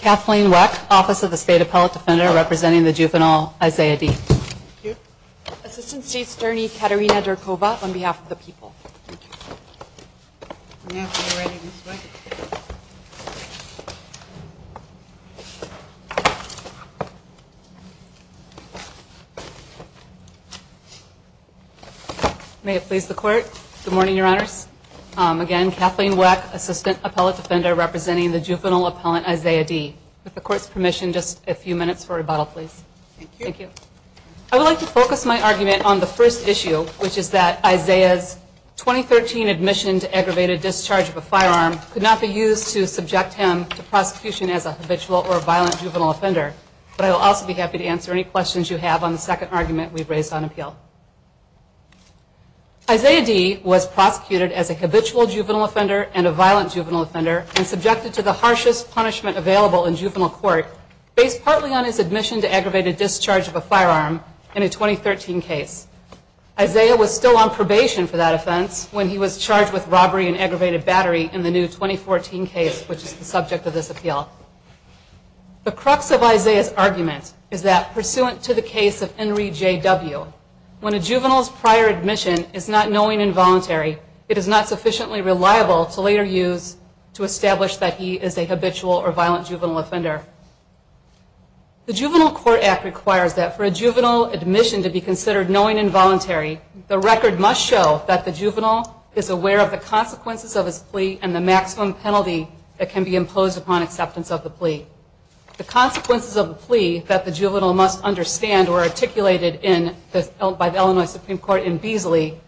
Kathleen Weck, Office of the State Appellate Defender, representing the Juvenile Isiah D. Assistant State Attorney Katerina Derkova, on behalf of the people. May it please the Court. Good morning, Your Honors. Again, Kathleen Weck, Assistant Appellate Defender, representing the Juvenile Appellant Isiah D. With the Court's permission, just a few minutes for rebuttal, please. Thank you. I would like to focus my argument on the first issue, which is that Isiah's 2013 admission to aggravated discharge of a firearm could not be used to subject him to prosecution as a habitual or violent juvenile offender. But I will also be happy to answer any questions you have on the second argument we've raised on appeal. Isiah D. was prosecuted as a habitual juvenile offender and a violent juvenile offender and subjected to the harshest punishment available in juvenile court based partly on his admission to aggravated discharge of a firearm in a 2013 case. Isiah was still on probation for that offense when he was charged with robbery and aggravated battery in the new 2014 case, which is the subject of this appeal. The crux of Isiah's argument is that, pursuant to the case of Henry J.W., when a juvenile's prior admission is not knowing and voluntary, it is not sufficiently reliable to later use to establish that he is a habitual or violent juvenile offender. The Juvenile Court Act requires that for a juvenile admission to be considered knowing and voluntary, the record must show that the juvenile is aware of the consequences of his plea and the maximum penalty that can be imposed upon acceptance of the plea. The consequences of the plea that the juvenile must understand were articulated by the Illinois Supreme Court in Beasley,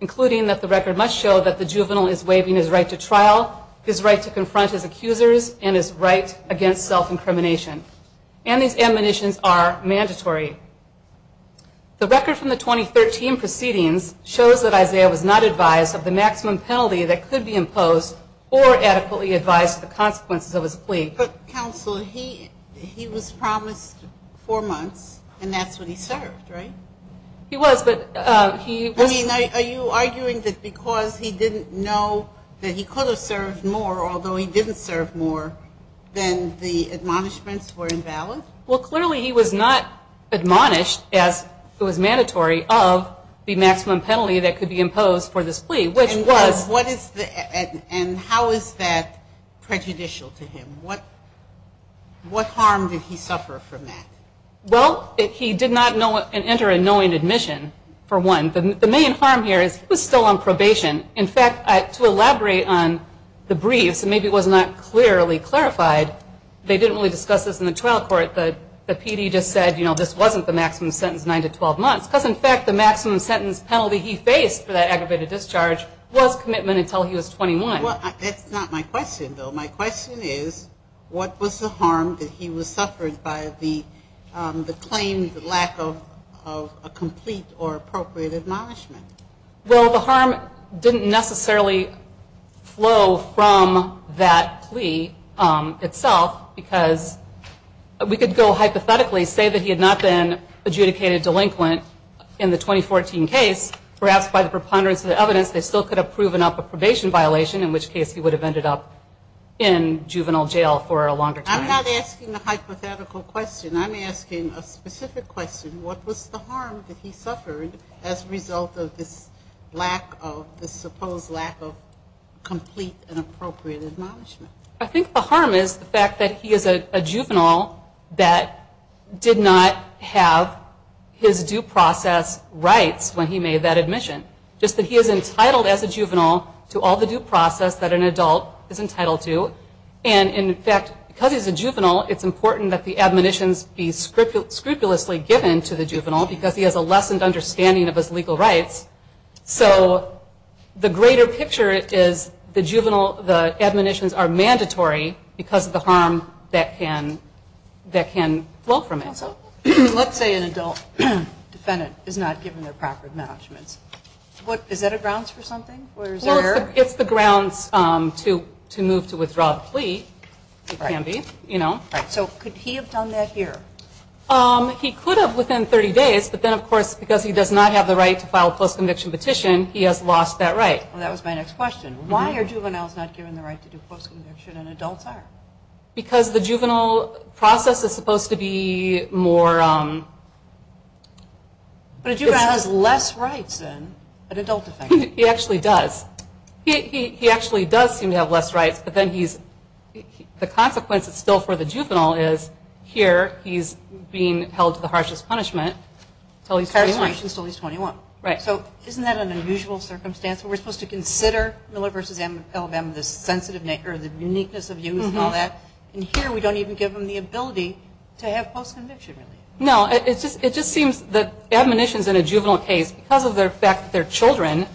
including that the record must show that the juvenile is waiving his right to trial, his right to confront his accusers, and his right against self-incrimination. And these admonitions are mandatory. The record from the 2013 proceedings shows that Isiah was not advised of the maximum penalty that could be imposed or adequately advised of the consequences of his plea. But, counsel, he was promised four months, and that's what he served, right? He was, but he was... I mean, are you arguing that because he didn't know that he could have served more, although he didn't serve more, then the admonishments were invalid? Well, clearly he was not admonished, as it was mandatory, of the maximum penalty that could be imposed for this plea, which was... And how is that prejudicial to him? What harm did he suffer from that? Well, he did not enter a knowing admission, for one. The main harm here is he was still on probation. In fact, to elaborate on the briefs, and maybe it was not clearly clarified, they didn't really discuss this in the trial court. The PD just said, you know, this wasn't the maximum sentence, 9 to 12 months, because, in fact, the maximum sentence penalty he faced for that aggravated discharge was commitment until he was 21. Well, that's not my question, though. My question is, what was the harm that he suffered by the claimed lack of a complete or appropriate admonishment? Well, the harm didn't necessarily flow from that plea itself, because we could go hypothetically, say that he had not been adjudicated delinquent in the 2014 case. Perhaps by the preponderance of the evidence, they still could have proven up a probation violation, in which case he would have ended up in juvenile jail for a longer time. I'm not asking a hypothetical question. I'm asking a specific question. What was the harm that he suffered as a result of this lack of, this supposed lack of complete and appropriate admonishment? I think the harm is the fact that he is a juvenile that did not have his due process rights when he made that admission. Just that he is entitled as a juvenile to all the due process that an adult is entitled to. And, in fact, because he's a juvenile, it's important that the admonitions be scrupulously given to the juvenile because he has a lessened understanding of his legal rights. So the greater picture is the juvenile, the admonitions are mandatory because of the harm that can flow from it. Let's say an adult defendant is not given their proper admonishments. Is that a grounds for something? It's the grounds to move to withdraw the plea. So could he have done that here? He could have within 30 days, but then, of course, because he does not have the right to file a post-conviction petition, he has lost that right. That was my next question. Why are juveniles not given the right to do post-conviction and adults are? Because the juvenile process is supposed to be more... But a juvenile has less rights than an adult defendant. He actually does. He actually does seem to have less rights, but then he's... the consequence is still for the juvenile is, here, he's being held to the harshest punishment until he's 21. Until he's 21. Right. So isn't that an unusual circumstance? We're supposed to consider Miller v. Alabama, the uniqueness of youth and all that, and here we don't even give them the ability to have post-conviction relief. No. It just seems that admonitions in a juvenile case, because of the fact that they're children,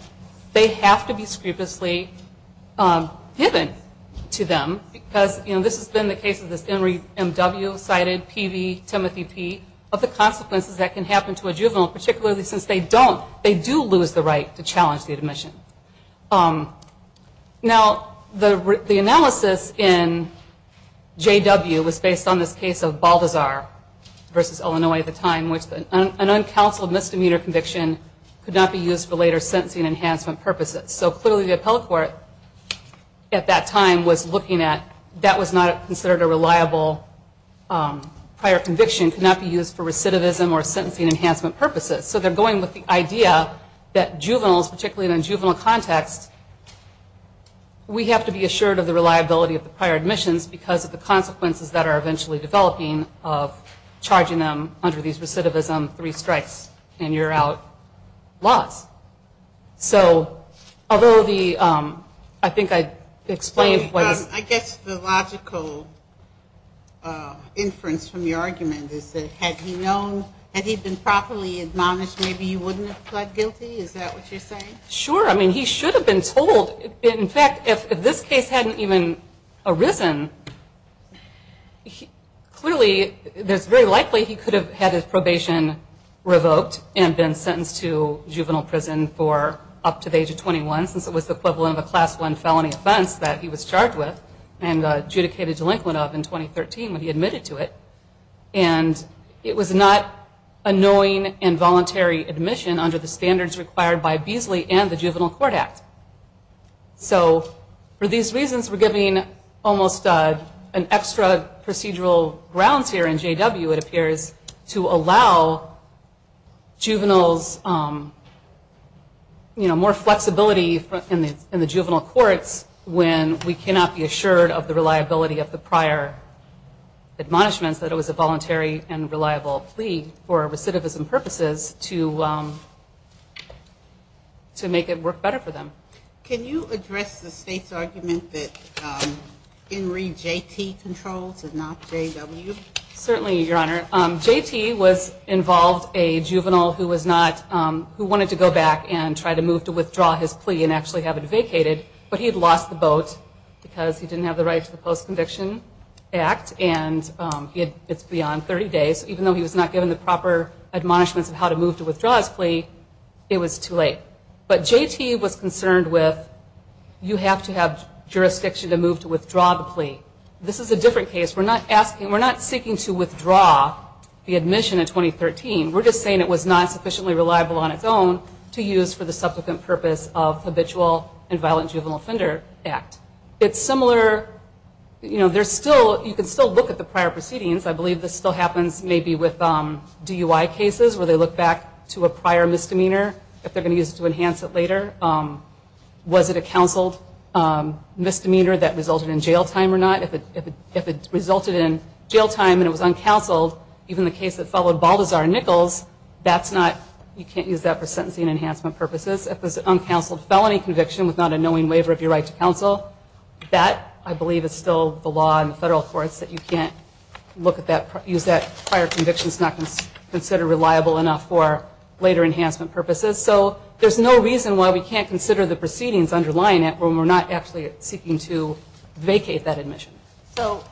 they have to be scrupulously given to them because, you know, this has been the case of this Emory M.W. cited, Peavey, Timothy P., of the consequences that can happen to a juvenile, particularly since they don't... they do lose the right to challenge the admission. Now, the analysis in J.W. was based on this case of Baldazar v. Illinois at the time, which an uncounseled misdemeanor conviction could not be used for later sentencing enhancement purposes. So clearly the appellate court at that time was looking at... that was not considered a reliable prior conviction, could not be used for recidivism or sentencing enhancement purposes. So they're going with the idea that juveniles, particularly in a juvenile context, we have to be assured of the reliability of the prior admissions because of the consequences that are eventually developing of charging them under these recidivism three strikes and you're out laws. So although the... I think I explained what is... I guess the logical inference from your argument is that had he known... had he been properly admonished, maybe you wouldn't have pled guilty? Is that what you're saying? Sure. I mean, he should have been told. In fact, if this case hadn't even arisen, clearly it's very likely he could have had his probation revoked and been sentenced to juvenile prison for up to the age of 21 since it was the equivalent of a Class I felony offense that he was charged with and adjudicated delinquent of in 2013 when he admitted to it. And it was not a knowing and voluntary admission under the standards required by Beasley and the Juvenile Court Act. So for these reasons, we're giving almost an extra procedural grounds here in JW, it appears, to allow juveniles, you know, more flexibility in the juvenile courts when we cannot be assured of the reliability of the prior admonishments that it was a voluntary and reliable plea for recidivism purposes to make it work better for them. Can you address the state's argument that Henry J.T. controls and not JW? Certainly, Your Honor. J.T. was involved a juvenile who wanted to go back and try to move to withdraw his plea and actually have it vacated, but he had lost the boat because he didn't have the right to the Post-Conviction Act and it's beyond 30 days. Even though he was not given the proper admonishments of how to move to withdraw his plea, it was too late. But J.T. was concerned with you have to have jurisdiction to move to withdraw the plea. This is a different case. We're not seeking to withdraw the admission in 2013. We're just saying it was not sufficiently reliable on its own to use for the subsequent purpose of habitual and violent juvenile offender act. It's similar, you know, you can still look at the prior proceedings. I believe this still happens maybe with DUI cases where they look back to a prior misdemeanor if they're going to use it to enhance it later. Was it a counseled misdemeanor that resulted in jail time or not? If it resulted in jail time and it was uncounseled, even the case that followed Baldazar and Nichols, you can't use that for sentencing enhancement purposes. If it was an uncounseled felony conviction with not a knowing waiver of your right to counsel, that I believe is still the law in the federal courts that you can't use that prior conviction that's not considered reliable enough for later enhancement purposes. So there's no reason why we can't consider the proceedings underlying it when we're not actually seeking to vacate that admission. So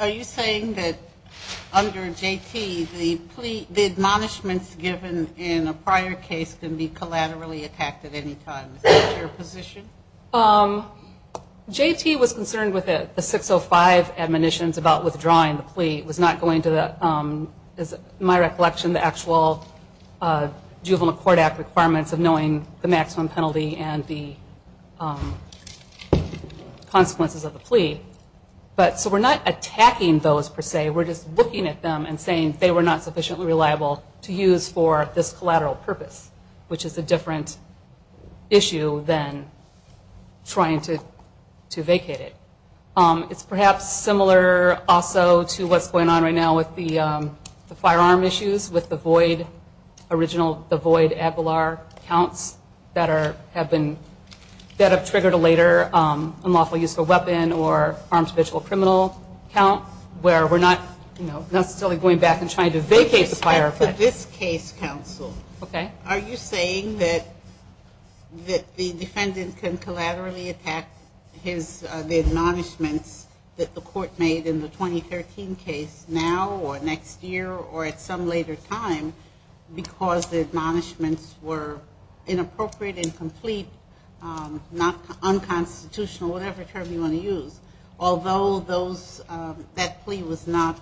are you saying that under J.T. the admonishments given in a prior case can be collaterally attacked at any time? Is that your position? J.T. was concerned with the 605 admonitions about withdrawing the plea. It was not going to, in my recollection, the actual Juvenile Court Act requirements of knowing the maximum penalty and the consequences of the plea. So we're not attacking those per se. We're just looking at them and saying they were not sufficiently reliable to use for this collateral purpose, which is a different issue than trying to vacate it. It's perhaps similar also to what's going on right now with the firearm issues with the void Abelard counts that have triggered a later unlawful use of a weapon or armed official criminal count where we're not necessarily going back and trying to vacate the firearm. For this case, counsel, are you saying that the defendant can collaterally attack the admonishments that the court made in the 2013 case now or next year or at some later time because the admonishments were inappropriate, incomplete, unconstitutional, whatever term you want to use, although that plea was not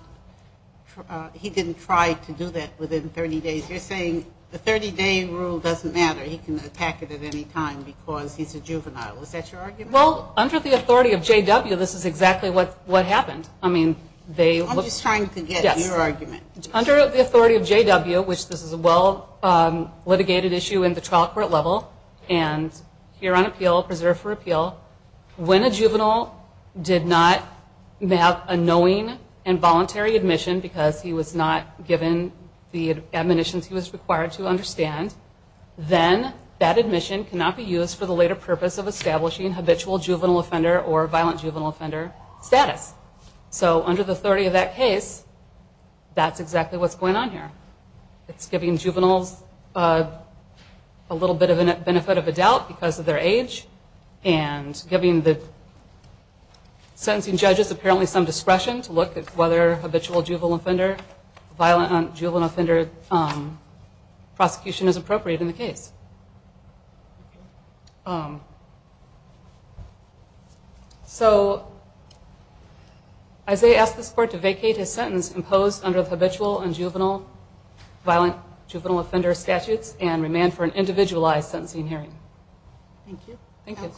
he didn't try to do that within 30 days. You're saying the 30-day rule doesn't matter. He can attack it at any time because he's a juvenile. Is that your argument? Well, under the authority of JW, this is exactly what happened. I'm just trying to get your argument. Yes. Under the authority of JW, which this is a well-litigated issue in the trial court level, and here on appeal, preserved for appeal, when a juvenile did not have a knowing and voluntary admission because he was not given the admonitions he was required to understand, then that admission cannot be used for the later purpose of establishing habitual juvenile offender or violent juvenile offender status. So under the authority of that case, that's exactly what's going on here. It's giving juveniles a little bit of a benefit of a doubt because of their age and giving the sentencing judges apparently some discretion to look at whether habitual juvenile offender, violent juvenile offender prosecution is appropriate in the case. Okay. So Isaiah asked this court to vacate his sentence imposed under the habitual and juvenile, violent juvenile offender statutes and remand for an individualized sentencing hearing. Thank you. Thank you.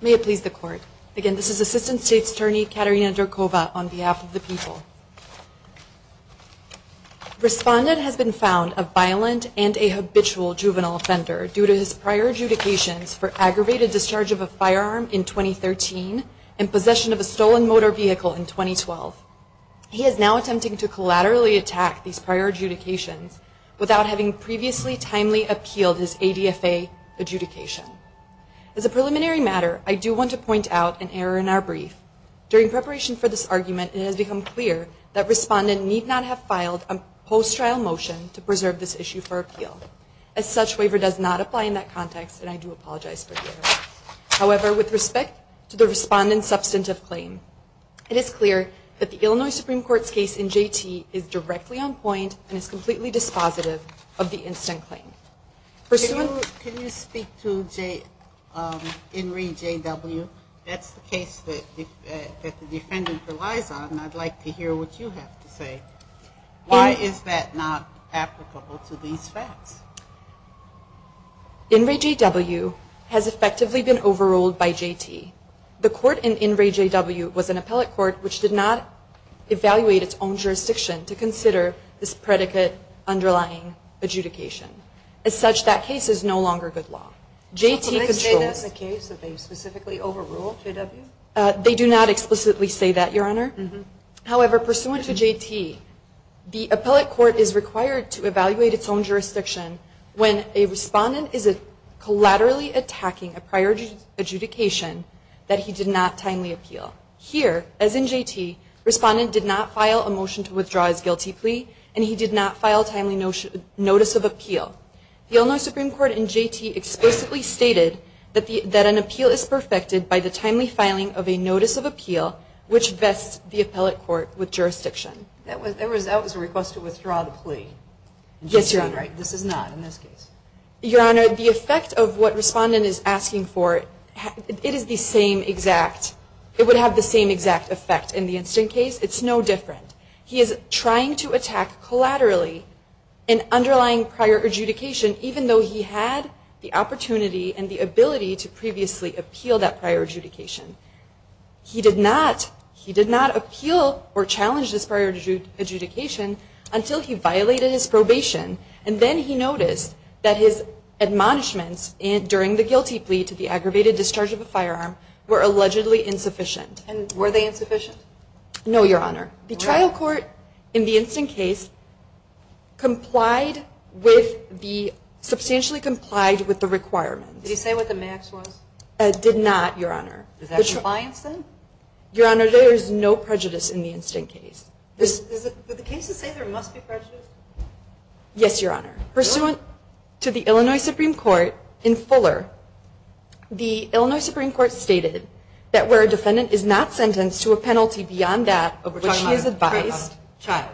May it please the court. Again, this is Assistant State's Attorney Katerina Durkova on behalf of the people. Respondent has been found a violent and a habitual juvenile offender due to his prior adjudications for aggravated discharge of a firearm in 2013 and possession of a stolen motor vehicle in 2012. He is now attempting to collaterally attack these prior adjudications without having previously timely appealed his ADFA adjudication. As a preliminary matter, I do want to point out an error in our brief. During preparation for this argument, it has become clear that respondent need not have filed a post-trial motion to preserve this issue for appeal. As such, waiver does not apply in that context and I do apologize for the error. However, with respect to the respondent's substantive claim, it is clear that the Illinois Supreme Court's case in JT is directly on point and is completely dispositive of the instant claim. Can you speak to INRI JW? That's the case that the defendant relies on and I'd like to hear what you have to say. Why is that not applicable to these facts? INRI JW has effectively been overruled by JT. The court in INRI JW was an appellate court which did not evaluate its own jurisdiction to consider this predicate underlying adjudication. As such, that case is no longer good law. Can you say that's a case that they specifically overruled, JW? They do not explicitly say that, Your Honor. However, pursuant to JT, the appellate court is required to evaluate its own jurisdiction when a respondent is collaterally attacking a prior adjudication that he did not timely appeal. Here, as in JT, respondent did not file a motion to withdraw his guilty plea and he did not file timely notice of appeal. The Illinois Supreme Court in JT explicitly stated that an appeal is perfected by the timely filing of a notice of appeal which vests the appellate court with jurisdiction. That was a request to withdraw the plea. Yes, Your Honor. This is not in this case. Your Honor, the effect of what respondent is asking for, it is the same exact. It would have the same exact effect in the instant case. It's no different. He is trying to attack collaterally an underlying prior adjudication even though he had the opportunity and the ability to previously appeal that prior adjudication. He did not appeal or challenge this prior adjudication until he violated his probation, and then he noticed that his admonishments during the guilty plea to the aggravated discharge of a firearm were allegedly insufficient. And were they insufficient? No, Your Honor. The trial court in the instant case substantially complied with the requirements. Did he say what the max was? Did not, Your Honor. Is that compliance then? Your Honor, there is no prejudice in the instant case. Did the case say there must be prejudice? Yes, Your Honor. Pursuant to the Illinois Supreme Court in Fuller, the Illinois Supreme Court stated that where a defendant is not sentenced to a penalty beyond that of which he is advised. Child.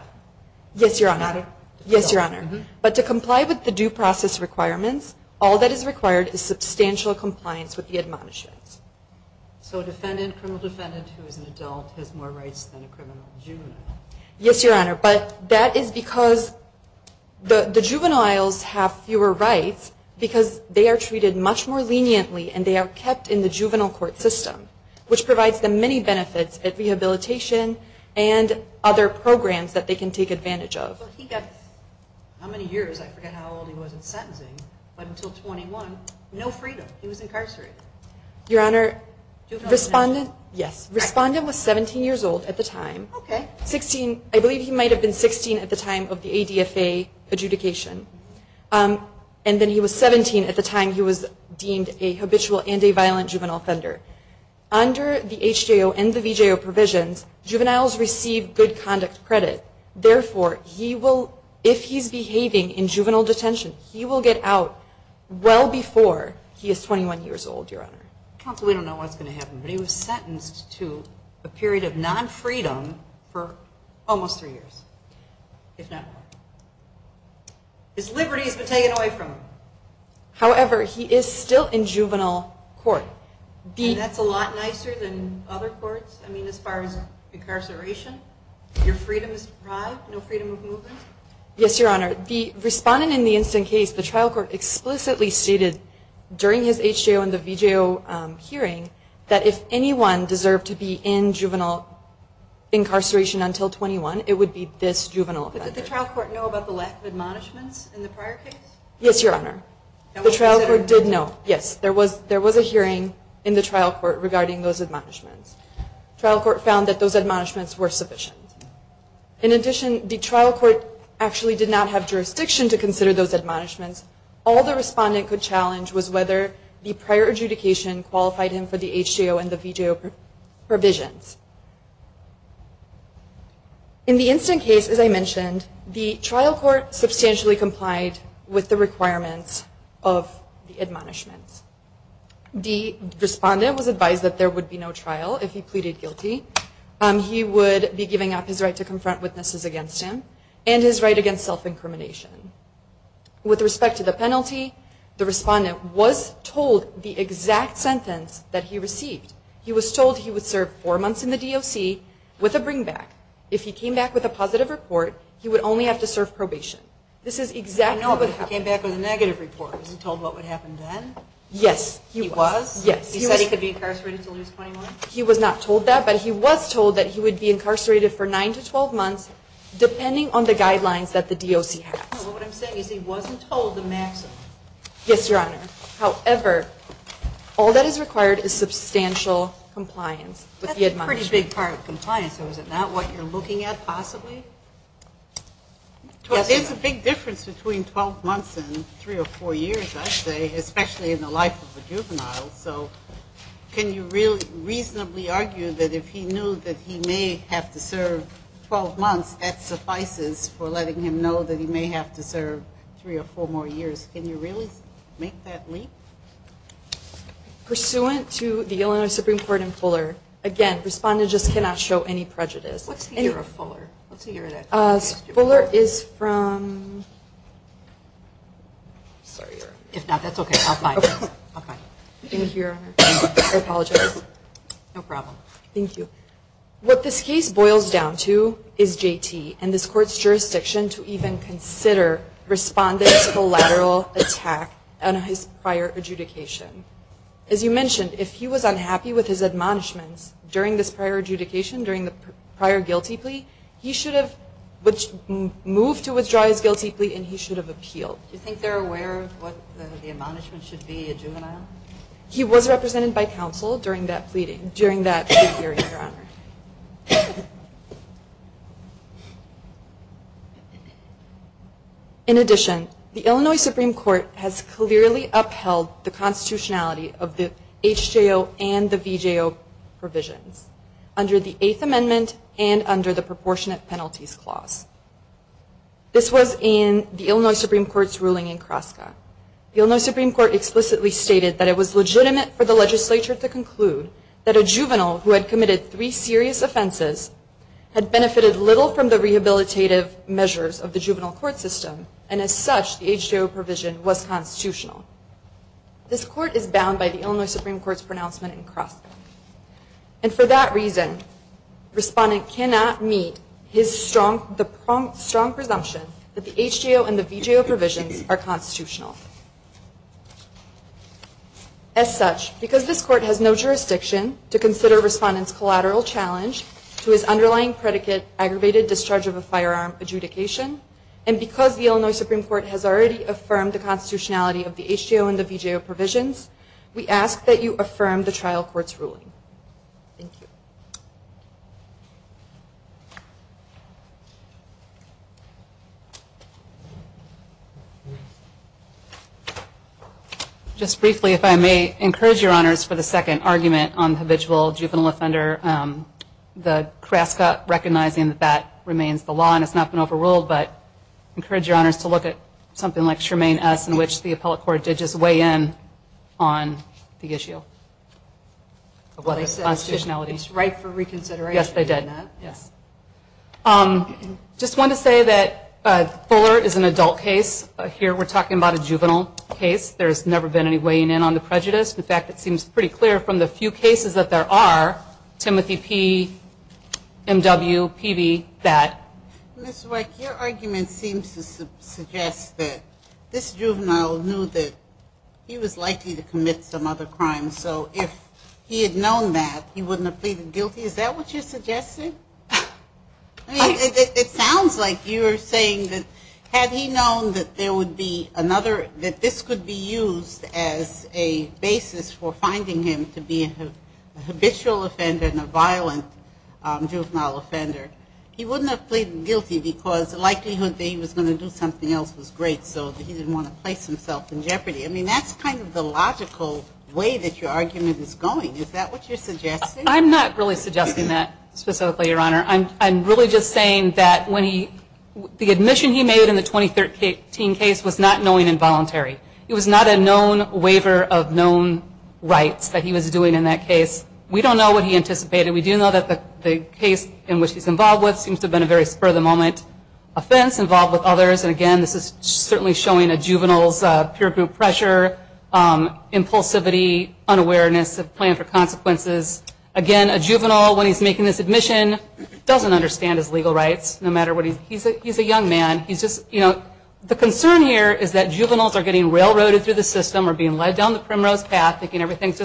Yes, Your Honor. Yes, Your Honor. But to comply with the due process requirements, all that is required is substantial compliance with the admonishments. So a defendant, a criminal defendant who is an adult has more rights than a criminal juvenile. Yes, Your Honor. But that is because the juveniles have fewer rights because they are treated much more leniently and they are kept in the juvenile court system, which provides them many benefits at rehabilitation and other programs that they can take advantage of. How many years? I forget how old he was in sentencing. But until 21, no freedom. He was incarcerated. Your Honor, the respondent was 17 years old at the time. Okay. 16. I believe he might have been 16 at the time of the ADFA adjudication. And then he was 17 at the time he was deemed a habitual and a violent juvenile offender. Under the HJO and the VJO provisions, juveniles receive good conduct credit. Therefore, if he's behaving in juvenile detention, he will get out well before he is 21 years old, Your Honor. Counsel, we don't know what's going to happen. But he was sentenced to a period of non-freedom for almost three years, if not more. His liberty has been taken away from him. However, he is still in juvenile court. And that's a lot nicer than other courts? I mean, as far as incarceration, your freedom is deprived, no freedom of movement? Yes, Your Honor. The respondent in the instant case, the trial court explicitly stated during his HJO and the VJO hearing that if anyone deserved to be in juvenile incarceration until 21, it would be this juvenile offender. Did the trial court know about the lack of admonishments in the prior case? Yes, Your Honor. The trial court did know. Yes. There was a hearing in the trial court regarding those admonishments. The trial court found that those admonishments were sufficient. In addition, the trial court actually did not have jurisdiction to consider those admonishments. All the respondent could challenge was whether the prior adjudication qualified him for the HJO and the VJO provisions. In the instant case, as I mentioned, the trial court substantially complied with the requirements of the admonishments. The respondent was advised that there would be no trial if he pleaded guilty. He would be giving up his right to confront witnesses against him and his right against self-incrimination. With respect to the penalty, the respondent was told the exact sentence that he received. He was told he would serve four months in the DOC with a bring back. If he came back with a positive report, he would only have to serve probation. I know, but if he came back with a negative report, was he told what would happen then? Yes. He was? Yes. He said he could be incarcerated until he was 21? He was not told that, but he was told that he would be incarcerated for 9 to 12 months depending on the guidelines that the DOC has. What I'm saying is he wasn't told the maximum. Yes, Your Honor. However, all that is required is substantial compliance with the admonishment. That's a pretty big part of compliance though, is it not? What you're looking at possibly? Yes, Your Honor. There's a big difference between 12 months and three or four years, I'd say, especially in the life of a juvenile. So can you reasonably argue that if he knew that he may have to serve 12 months, that suffices for letting him know that he may have to serve three or four more years? Can you really make that leap? Pursuant to the Illinois Supreme Court and Fuller, again, respondent just cannot show any prejudice. What's the year of Fuller? What's the year of that? Fuller is from... Sorry, Your Honor. If not, that's okay. Thank you, Your Honor. I apologize. No problem. Thank you. What this case boils down to is JT and this court's jurisdiction to even consider respondent's collateral attack on his prior adjudication. As you mentioned, if he was unhappy with his admonishments during this prior adjudication, during the prior guilty plea, he should have moved to withdraw his guilty plea and he should have appealed. Do you think they're aware of what the admonishment should be, a juvenile? He was represented by counsel during that plea hearing, Your Honor. In addition, the Illinois Supreme Court has clearly upheld the constitutionality of the HJO and the VJO provisions under the Eighth Amendment and under the Proportionate Penalties Clause. This was in the Illinois Supreme Court's ruling in Kroska. The Illinois Supreme Court explicitly stated that it was legitimate for the legislature to conclude that a juvenile who had committed three serious offenses had benefited little from the rehabilitative measures of the juvenile court system and as such the HJO provision was constitutional. This court is bound by the Illinois Supreme Court's pronouncement in Kroska. And for that reason, respondent cannot meet his strong presumption that the HJO and the VJO provisions are constitutional. As such, because this court has no jurisdiction to consider respondent's collateral challenge to his underlying predicate, aggravated discharge of a firearm adjudication, and because the Illinois Supreme Court has already affirmed the constitutionality of the HJO and the VJO provisions, we ask that you affirm the trial court's ruling. Thank you. Just briefly, if I may, encourage your honors for the second argument on the habitual juvenile offender. The Kroska recognizing that that remains the law and has not been overruled, but encourage your honors to look at something like Tremaine S in which the appellate court did just weigh in on the issue. It's right for reconsideration. Yes, they did. Just want to say that Fuller is an adult case. Here we're talking about a juvenile case. There's never been any weighing in on the prejudice. In fact, it seems pretty clear from the few cases that there are, Timothy P, M.W., P.V., that. Ms. Weick, your argument seems to suggest that this juvenile knew that he was likely to commit some other crime. So if he had known that, he wouldn't have pleaded guilty. Is that what you're suggesting? It sounds like you're saying that had he known that there would be another, that this could be used as a basis for finding him to be a habitual offender and a violent juvenile offender, he wouldn't have pleaded guilty because the likelihood that he was going to do something else was great, so he didn't want to place himself in jeopardy. I mean, that's kind of the logical way that your argument is going. Is that what you're suggesting? I'm not really suggesting that specifically, Your Honor. I'm really just saying that the admission he made in the 2013 case was not knowing and voluntary. It was not a known waiver of known rights that he was doing in that case. We don't know what he anticipated. We do know that the case in which he's involved with seems to have been a very spur-of-the-moment offense, involved with others, and again, this is certainly showing a juvenile's peer group pressure, impulsivity, unawareness of plan for consequences. Again, a juvenile, when he's making this admission, doesn't understand his legal rights, no matter what. He's a young man. He's just, you know, the concern here is that juveniles are getting railroaded through the system or being led down the primrose path, thinking everything's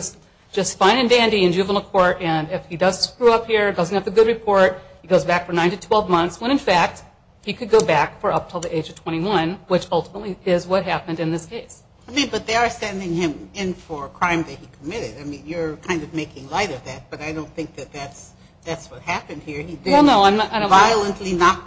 just fine and dandy in juvenile court, and if he does screw up here, doesn't have a good report, he goes back for 9 to 12 months, when in fact he could go back for up until the age of 21, which ultimately is what happened in this case. I mean, but they are sending him in for a crime that he committed. I mean, you're kind of making light of that, but I don't think that that's what happened here. He didn't violently knock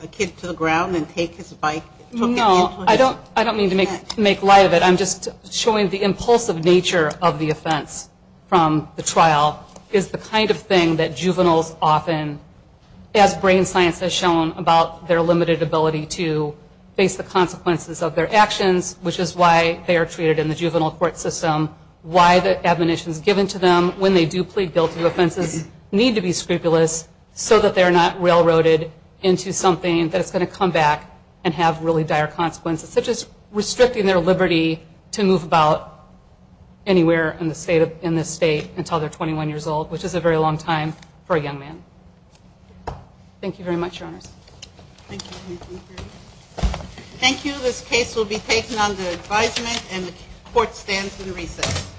a kid to the ground and take his bike. No, I don't mean to make light of it. I'm just showing the impulsive nature of the offense from the trial is the kind of thing that juveniles often, as brain science has shown about their limited ability to face the consequences of their actions, which is why they are treated in the juvenile court system, why the admonitions given to them when they do plead guilty to offenses need to be scrupulous so that they're not railroaded into something that is going to come back and have really dire consequences, such as restricting their liberty to move about anywhere in the state until they're 21 years old, which is a very long time for a young man. Thank you very much, Your Honors. Thank you. Thank you. This case will be taken under advisement, and the court stands in recess.